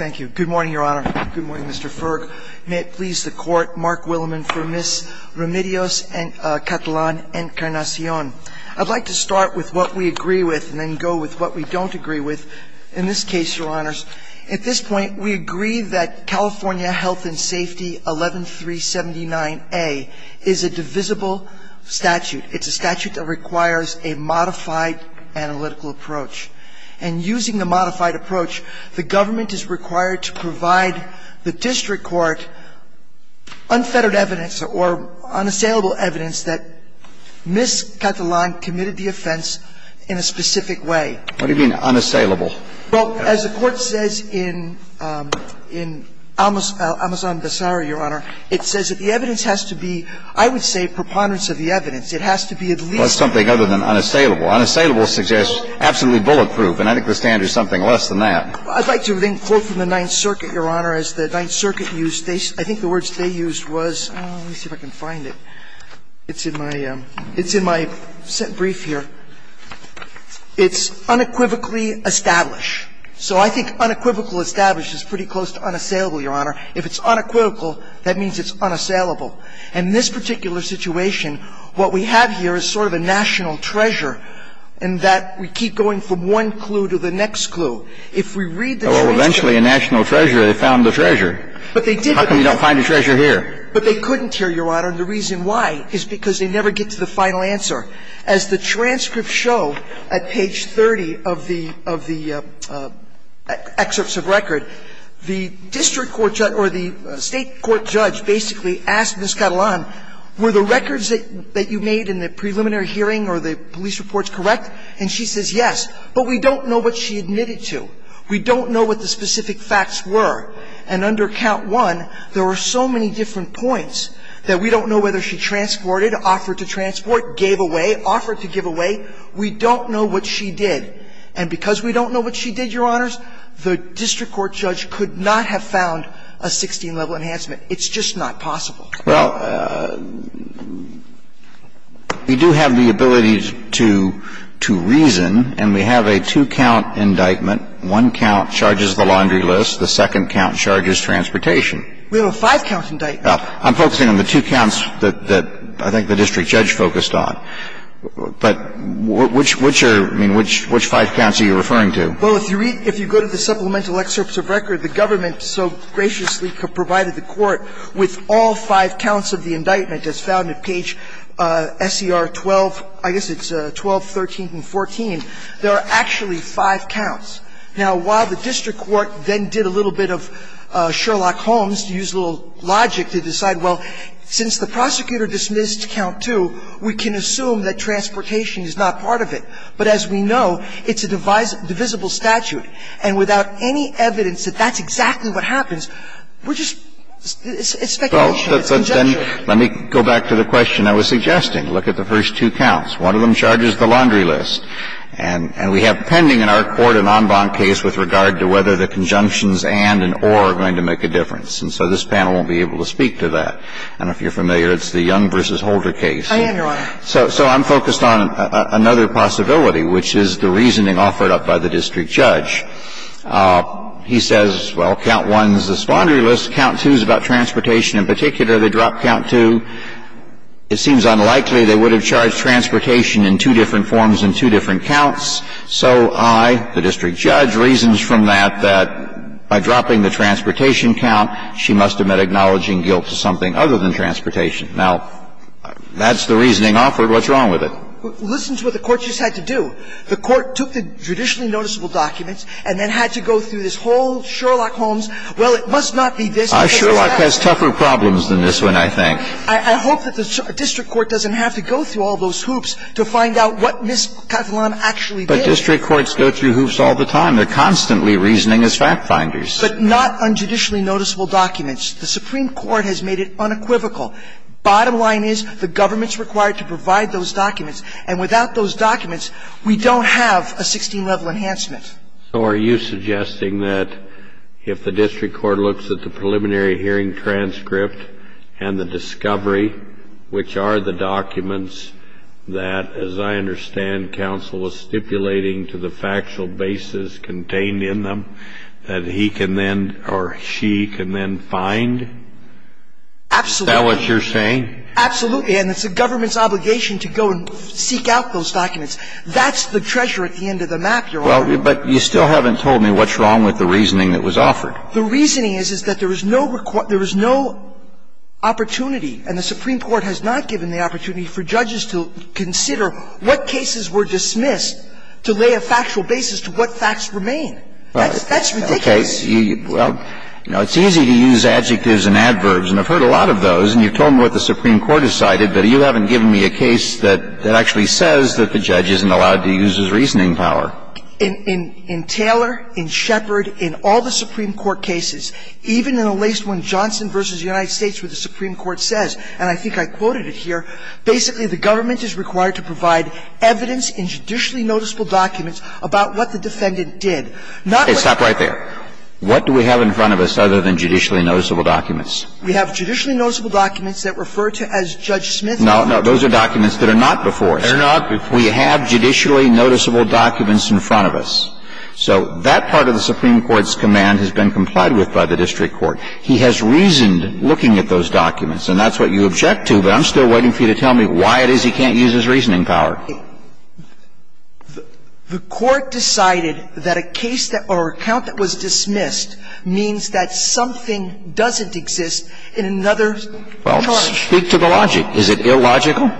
Thank you. Good morning, Your Honor. Good morning, Mr. Ferg. May it please the Court, Mark Willeman, for Ms. Remedios Catalan-Encarnacion. I'd like to start with what we agree with and then go with what we don't agree with. In this case, Your Honors, at this point, we agree that California Health and Safety 11379A is a divisible statute. It's a statute that requires a modified analytical approach. And using the modified approach, the government is required to provide the district court unfettered evidence or unassailable evidence that Ms. Catalan committed the offense in a specific way. What do you mean, unassailable? Well, as the Court says in Amazon Basara, Your Honor, it says that the evidence has to be, I would say, preponderance of the evidence. It has to be at least unassailable. Well, that's something other than unassailable. Unassailable suggests absolutely bulletproof, and I think the standard is something less than that. I'd like to then quote from the Ninth Circuit, Your Honor, as the Ninth Circuit used. I think the words they used was – let me see if I can find it. It's in my – it's in my brief here. It's unequivocally established. So I think unequivocal established is pretty close to unassailable, Your Honor. If it's unequivocal, that means it's unassailable. And in this particular situation, what we have here is sort of a national treasure, in that we keep going from one clue to the next clue. If we read the transcripts – Well, eventually a national treasure, they found the treasure. But they did – How come you don't find a treasure here? But they couldn't here, Your Honor, and the reason why is because they never get to the final answer. As the transcripts show at page 30 of the excerpts of record, the district court judge – or the State court judge basically asked Ms. Catalan, were the records that you made in the preliminary hearing or the police reports correct? And she says yes, but we don't know what she admitted to. We don't know what the specific facts were. And under count one, there were so many different points that we don't know whether she transported, offered to transport, gave away, offered to give away. We don't know what she did. And because we don't know what she did, Your Honors, the district court judge could not have found a 16-level enhancement. It's just not possible. Well, we do have the ability to reason, and we have a two-count indictment. One count charges the laundry list. The second count charges transportation. We have a five-count indictment. Now, I'm focusing on the two counts that I think the district judge focused on, but which are – I mean, which five counts are you referring to? Well, if you read – if you go to the supplemental excerpts of record, the government so graciously provided the court with all five counts of the indictment as found at page SER 12 – I guess it's 12, 13, and 14. There are actually five counts. Now, while the district court then did a little bit of Sherlock Holmes to use a little bit of logic to decide, well, since the prosecutor dismissed count two, we can assume that transportation is not part of it. But as we know, it's a divisible statute. And without any evidence that that's exactly what happens, we're just – it's speculation. It's conjecture. Well, then let me go back to the question I was suggesting. Look at the first two counts. One of them charges the laundry list. And we have pending in our court an en banc case with regard to whether the conjunctions and and or are And so this panel won't be able to speak to that. I don't know if you're familiar. It's the Young v. Holder case. I am, Your Honor. So I'm focused on another possibility, which is the reasoning offered up by the district judge. He says, well, count one is the laundry list. Count two is about transportation in particular. They drop count two. It seems unlikely they would have charged transportation in two different forms in two different counts. So I, the district judge, reasons from that that by dropping the transportation count, she must have meant acknowledging guilt to something other than transportation. Now, that's the reasoning offered. What's wrong with it? Listen to what the court just had to do. The court took the judicially noticeable documents and then had to go through this whole Sherlock Holmes, well, it must not be this. Sherlock has tougher problems than this one, I think. I hope that the district court doesn't have to go through all those hoops to find out what Ms. Catalan actually did. But district courts go through hoops all the time. They're constantly reasoning as fact finders. But not on judicially noticeable documents. The Supreme Court has made it unequivocal. Bottom line is the government's required to provide those documents. And without those documents, we don't have a 16-level enhancement. So are you suggesting that if the district court looks at the preliminary hearing transcript and the discovery, which are the documents that, as I understand, counsel was stipulating to the factual basis contained in them, that he can then or she can then find? Absolutely. Is that what you're saying? Absolutely. And it's the government's obligation to go and seek out those documents. That's the treasure at the end of the map, Your Honor. Well, but you still haven't told me what's wrong with the reasoning that was offered. The reasoning is, is that there is no opportunity, and the Supreme Court has not given the opportunity for judges to consider what cases were dismissed to lay a factual basis to what facts remain. That's ridiculous. Okay. Well, you know, it's easy to use adjectives and adverbs. And I've heard a lot of those. And you've told me what the Supreme Court has cited, but you haven't given me a case that actually says that the judge isn't allowed to use his reasoning power. In Taylor, in Shepard, in all the Supreme Court cases, even in the latest one, Johnson v. United States, where the Supreme Court says, and I think I quoted it here, basically the government is required to provide evidence in judicially noticeable documents about what the defendant did. Hey, stop right there. What do we have in front of us other than judicially noticeable documents? We have judicially noticeable documents that refer to as Judge Smith. No, no. Those are documents that are not before us. They're not before us. We have judicially noticeable documents in front of us. So that part of the Supreme Court's command has been complied with by the district court. He has reasoned looking at those documents. And that's what you object to. But I'm still waiting for you to tell me why it is he can't use his reasoning power. The Court decided that a case that or a count that was dismissed means that something doesn't exist in another charge. Well, speak to the logic. Is it illogical?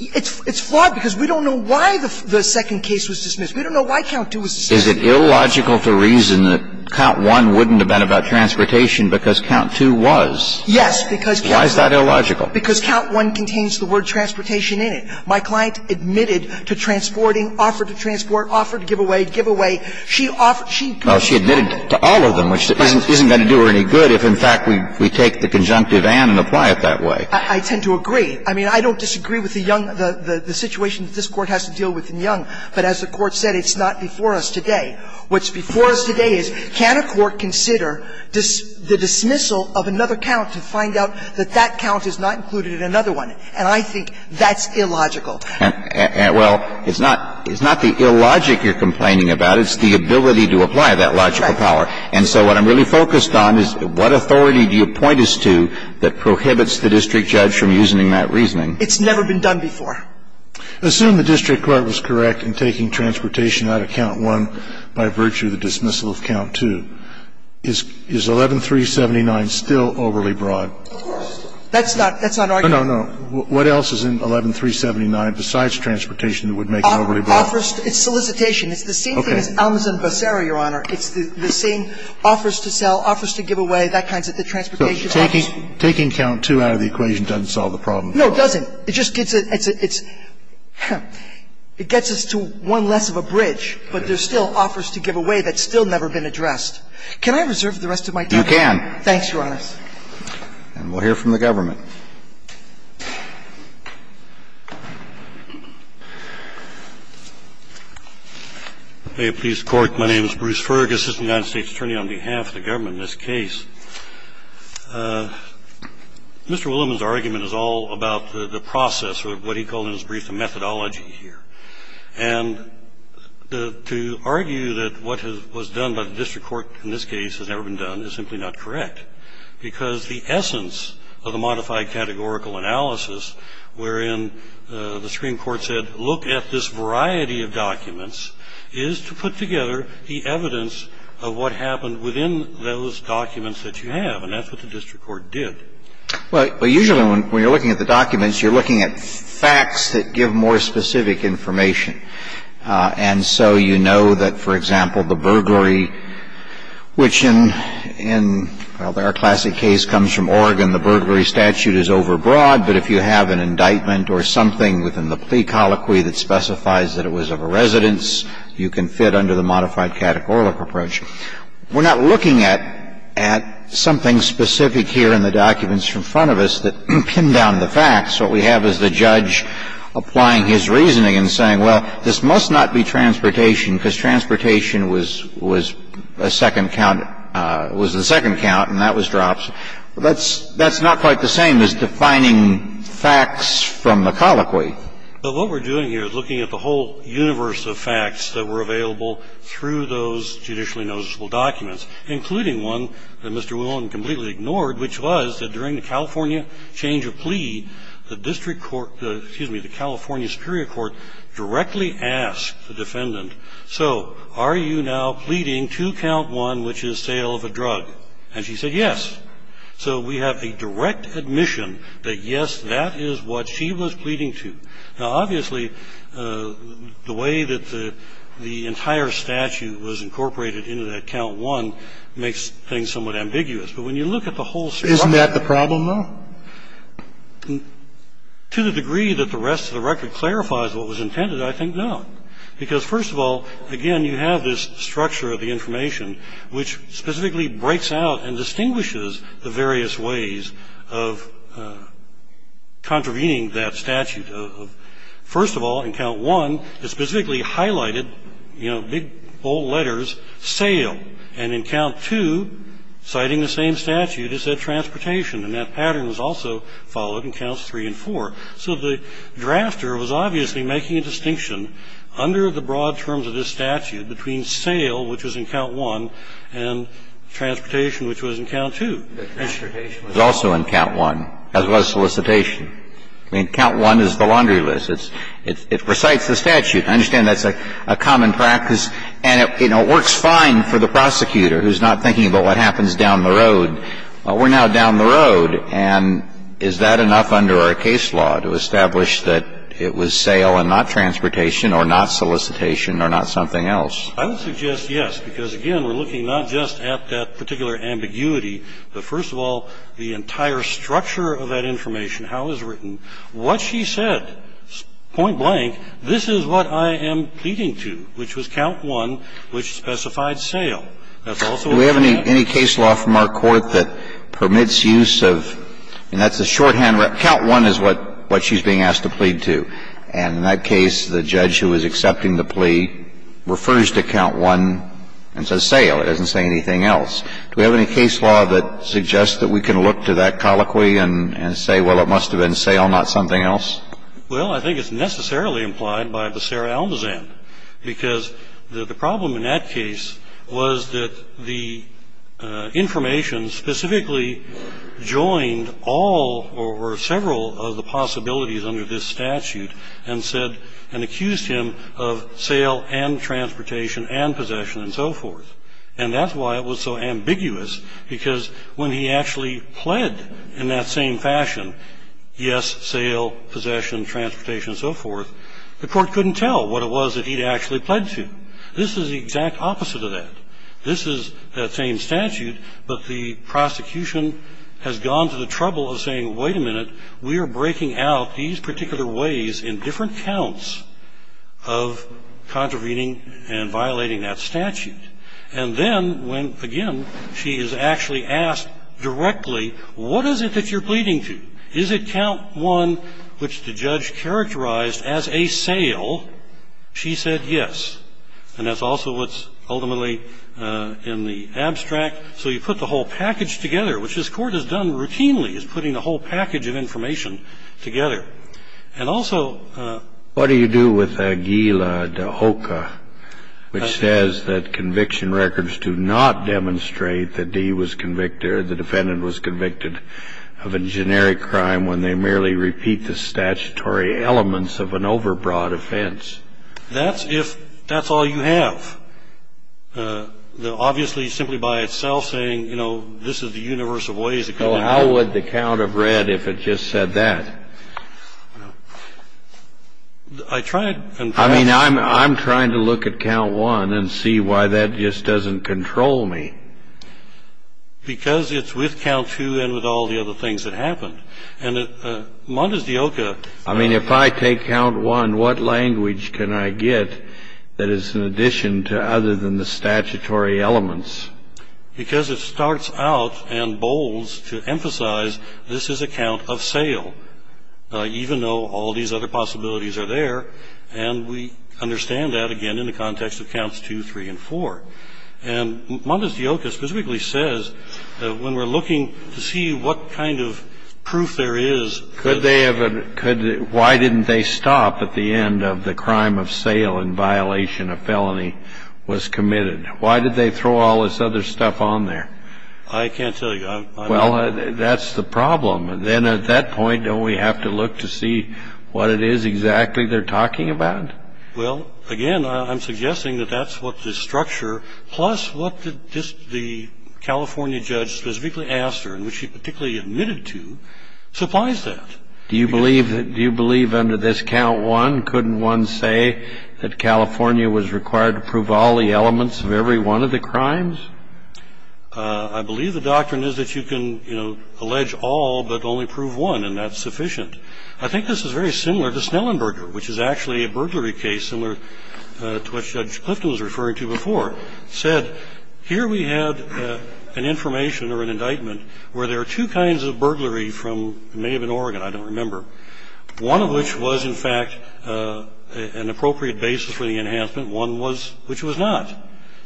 It's flawed because we don't know why the second case was dismissed. We don't know why count 2 was dismissed. Is it illogical to reason that count 1 wouldn't have been about transportation because count 2 was? Yes, because count 1. Why is that illogical? Because count 1 contains the word transportation in it. My client admitted to transporting, offered to transport, offered to give away, give away. She offered to give away. Well, she admitted to all of them, which isn't going to do her any good if, in fact, we take the conjunctive and and apply it that way. I tend to agree. I mean, I don't disagree with the young the situation that this Court has to deal with in Young, but as the Court said, it's not before us today. What's before us today is can a court consider the dismissal of another count to find out that that count is not included in another one. And I think that's illogical. Well, it's not the illogic you're complaining about. It's the ability to apply that logical power. And so what I'm really focused on is what authority do you point us to that prohibits the district judge from using that reasoning? It's never been done before. Assume the district court was correct in taking transportation out of count one by virtue of the dismissal of count two. Is 11379 still overly broad? Of course. That's not arguing. No, no. What else is in 11379 besides transportation that would make it overly broad? Offers. It's solicitation. Okay. It's the same thing as Almas and Becerra, Your Honor. It's the same offers to sell, offers to give away, that kind of thing. So taking count two out of the equation doesn't solve the problem? No, it doesn't. It just gets a – it gets us to one less of a bridge, but there's still offers to give away that's still never been addressed. Can I reserve the rest of my time? You can. Thanks, Your Honor. And we'll hear from the government. May it please the Court. My name is Bruce Fergus, Assistant United States Attorney on behalf of the government in this case. Mr. Willimon's argument is all about the process or what he called in his brief the methodology here. And to argue that what was done by the district court in this case has never been done is simply not correct, because the essence of the modified categorical analysis wherein the Supreme Court said look at this variety of documents is to put together the evidence of what happened within those documents that you have, and that's what the district court did. Well, usually when you're looking at the documents, you're looking at facts that give more specific information. And so you know that, for example, the burglary, which in – well, our classic case comes from Oregon. The burglary statute is overbroad, but if you have an indictment or something within the plea colloquy that specifies that it was of a residence, you can fit under the modified categorical approach. We're not looking at something specific here in the documents in front of us that pin down the facts. What we have is the judge applying his reasoning and saying, well, this must not be transportation, because transportation was a second count – was the second count and that was drops. That's not quite the same as defining facts from the colloquy. But what we're doing here is looking at the whole universe of facts that were available through those judicially noticeable documents, including one that Mr. Whelan completely ignored, which was that during the California change of plea, the district court – excuse me, the California superior court directly asked the defendant, so are you now pleading two count one, which is sale of a drug? And she said yes. So we have the direct admission that, yes, that is what she was pleading to. Now, obviously, the way that the entire statute was incorporated into that count one makes things somewhat ambiguous. But when you look at the whole structure – Isn't that the problem, though? To the degree that the rest of the record clarifies what was intended, I think no, because, first of all, again, you have this structure of the information which specifically breaks out and distinguishes the various ways of contravening that statute. First of all, in count one, it specifically highlighted, you know, big, bold letters, sale. And in count two, citing the same statute, it said transportation, and that pattern was also followed in counts three and four. So the drafter was obviously making a distinction under the broad terms of this case. And then, of course, in count one, transportation, which was in count two. The transportation was also in count one, as was solicitation. I mean, count one is the laundry list. It recites the statute. I understand that's a common practice. And, you know, it works fine for the prosecutor who's not thinking about what happens down the road. Well, we're now down the road, and is that enough under our case law to establish that it was sale and not transportation or not solicitation or not something else? I would suggest yes, because, again, we're looking not just at that particular ambiguity, but, first of all, the entire structure of that information, how it was written, what she said, point blank, this is what I am pleading to, which was count one, which specified sale. That's also what she said. Do we have any case law from our Court that permits use of – and that's a shorthand – count one is what she's being asked to plead to. And in that case, the judge who is accepting the plea refers to count one and says sale. It doesn't say anything else. Do we have any case law that suggests that we can look to that colloquy and say, well, it must have been sale, not something else? Well, I think it's necessarily implied by the Sarah Almazan, because the problem in that case was that the information specifically joined all or several of the possibilities under this statute and said – and accused him of sale and transportation and possession and so forth. And that's why it was so ambiguous, because when he actually pled in that same fashion, yes, sale, possession, transportation, and so forth, the Court couldn't tell what it was that he'd actually pled to. This is the exact opposite of that. This is the same statute, but the prosecution has gone to the trouble of saying, wait a minute, we are breaking out these particular ways in different counts of contravening and violating that statute. And then when, again, she is actually asked directly, what is it that you're pleading to? Is it count one, which the judge characterized as a sale? She said yes. And that's also what's ultimately in the abstract. So you put the whole package together, which this Court has done routinely, is putting a whole package of information together. And also – What do you do with Aguila de Hoca, which says that conviction records do not demonstrate that he was convicted or the defendant was convicted of a generic crime when they merely repeat the statutory elements of an overbroad offense? That's if – that's all you have. Obviously, simply by itself saying, you know, this is the universe of ways – Well, how would the count have read if it just said that? I tried – I mean, I'm trying to look at count one and see why that just doesn't control me. Because it's with count two and with all the other things that happened. And Mondes de Hoca – I mean, if I take count one, what language can I get that is in addition to other than the statutory elements? Because it starts out and bolds to emphasize this is a count of sale, even though all these other possibilities are there. And we understand that, again, in the context of counts two, three, and four. And Mondes de Hoca specifically says that when we're looking to see what kind of proof there is – Could they have – could – why didn't they stop at the end of the crime of sale in violation of felony was committed? Why did they throw all this other stuff on there? I can't tell you. Well, that's the problem. And then at that point, don't we have to look to see what it is exactly they're talking about? Well, again, I'm suggesting that that's what the structure, plus what the California judge specifically asked her, and which she particularly admitted to, supplies that. Do you believe that – do you believe under this count one, couldn't one say that California was required to prove all the elements of every one of the crimes? I believe the doctrine is that you can, you know, allege all but only prove one, and that's sufficient. I think this is very similar to Snellenberger, which is actually a burglary case similar to what Judge Clifton was referring to before. He said, here we have an information or an indictment where there are two kinds of burglary from – it may have been Oregon, I don't remember – one of which was, in fact, an appropriate basis for the enhancement, one was – which was not.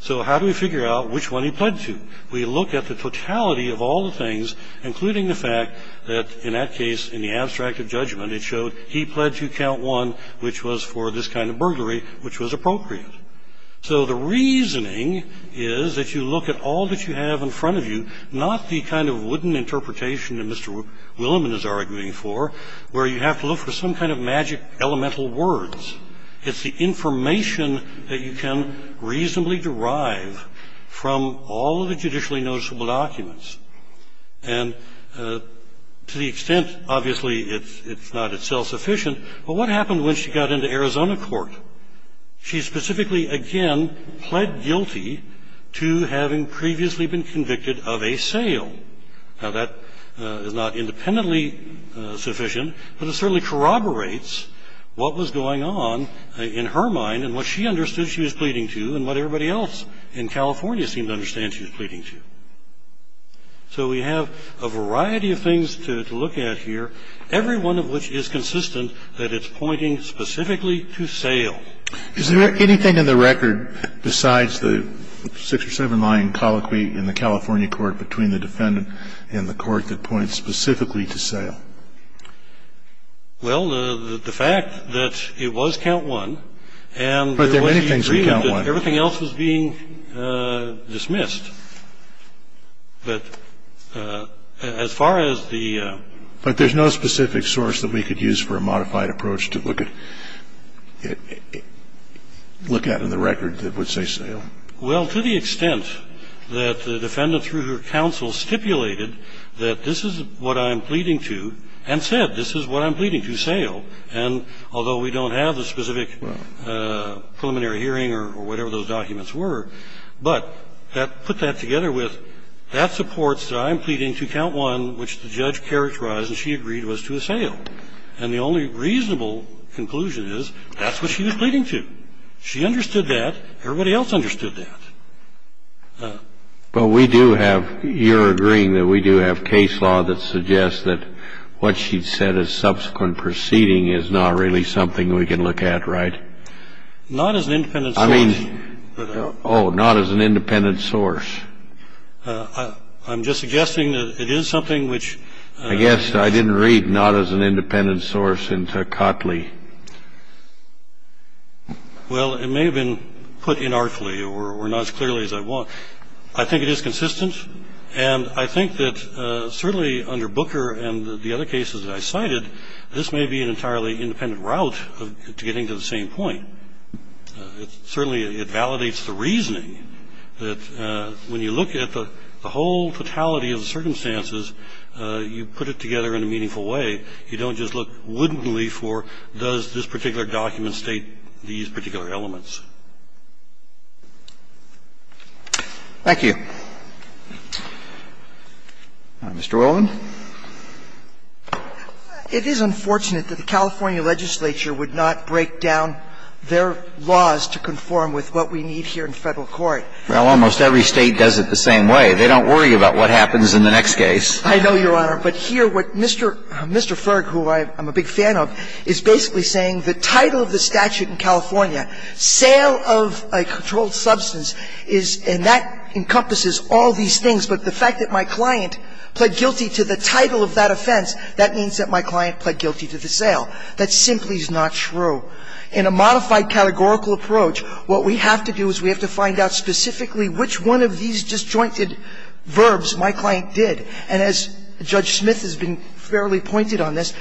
So how do we figure out which one he pled to? We look at the totality of all the things, including the fact that, in that case, in the abstract of judgment, it showed he pled to count one, which was for this kind of burglary, which was appropriate. So the reasoning is that you look at all that you have in front of you, not the kind of wooden interpretation that Mr. Willimon is arguing for, where you have to look for some kind of magic elemental words. It's the information that you can reasonably derive from all of the judicially noticeable documents. And to the extent, obviously, it's not itself sufficient, but what happened when she got into Arizona court? She specifically, again, pled guilty to having previously been convicted of a sale. Now, that is not independently sufficient, but it certainly corroborates what was going on in her mind and what she understood she was pleading to and what everybody else in California seemed to understand she was pleading to. So we have a variety of things to look at here, every one of which is consistent that it's pointing specifically to sale. Is there anything in the record besides the six or seven line colloquy in the California court between the defendant and the court that points specifically to sale? Well, the fact that it was count one and the way she agreed that everything else was being dismissed. But as far as the ---- But there's no specific source that we could use for a modified approach to look at in the record that would say sale. Well, to the extent that the defendant, through her counsel, stipulated that this is what I'm pleading to and said this is what I'm pleading to, sale, and although we don't have the specific preliminary hearing or whatever those documents were, but that put that together with that supports that I'm pleading to count one, which the judge characterized and she agreed was to a sale. And the only reasonable conclusion is that's what she was pleading to. She understood that. Everybody else understood that. But we do have ---- You're agreeing that we do have case law that suggests that what she said as subsequent proceeding is not really something we can look at, right? Not as an independent source. I mean ---- Oh, not as an independent source. I'm just suggesting that it is something which ---- I guess I didn't read not as an independent source into Cotley. Well, it may have been put inartfully or not as clearly as I want. I think it is consistent. And I think that certainly under Booker and the other cases that I cited, this may be an entirely independent route to getting to the same point. Certainly it validates the reasoning that when you look at the whole totality of the circumstances, you put it together in a meaningful way. You don't just look wittily for does this particular document state these particular Thank you. Mr. Whelan. It is unfortunate that the California legislature would not break down their laws to conform with what we need here in Federal court. Well, almost every State does it the same way. They don't worry about what happens in the next case. I know, Your Honor. But here what Mr. Ferg, who I'm a big fan of, is basically saying the title of the offense, that means that my client pled guilty to the sale. That simply is not true. In a modified categorical approach, what we have to do is we have to find out specifically which one of these disjointed verbs my client did. And as Judge Smith has been fairly pointed on this,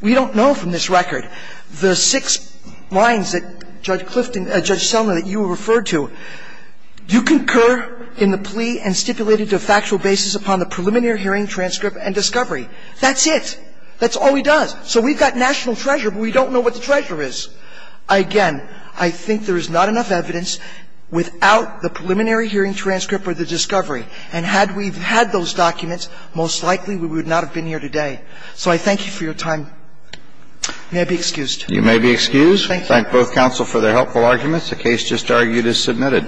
we don't know from this record the six lines that Judge Selma, that you referred to. You concur in the plea and stipulated to a factual basis upon the preliminary hearing transcript and discovery. That's it. That's all he does. So we've got national treasure, but we don't know what the treasure is. Again, I think there is not enough evidence without the preliminary hearing transcript or the discovery. And had we had those documents, most likely we would not have been here today. So I thank you for your time. May I be excused? You may be excused. Thank you. Thank both counsel for their helpful arguments. The case just argued is submitted.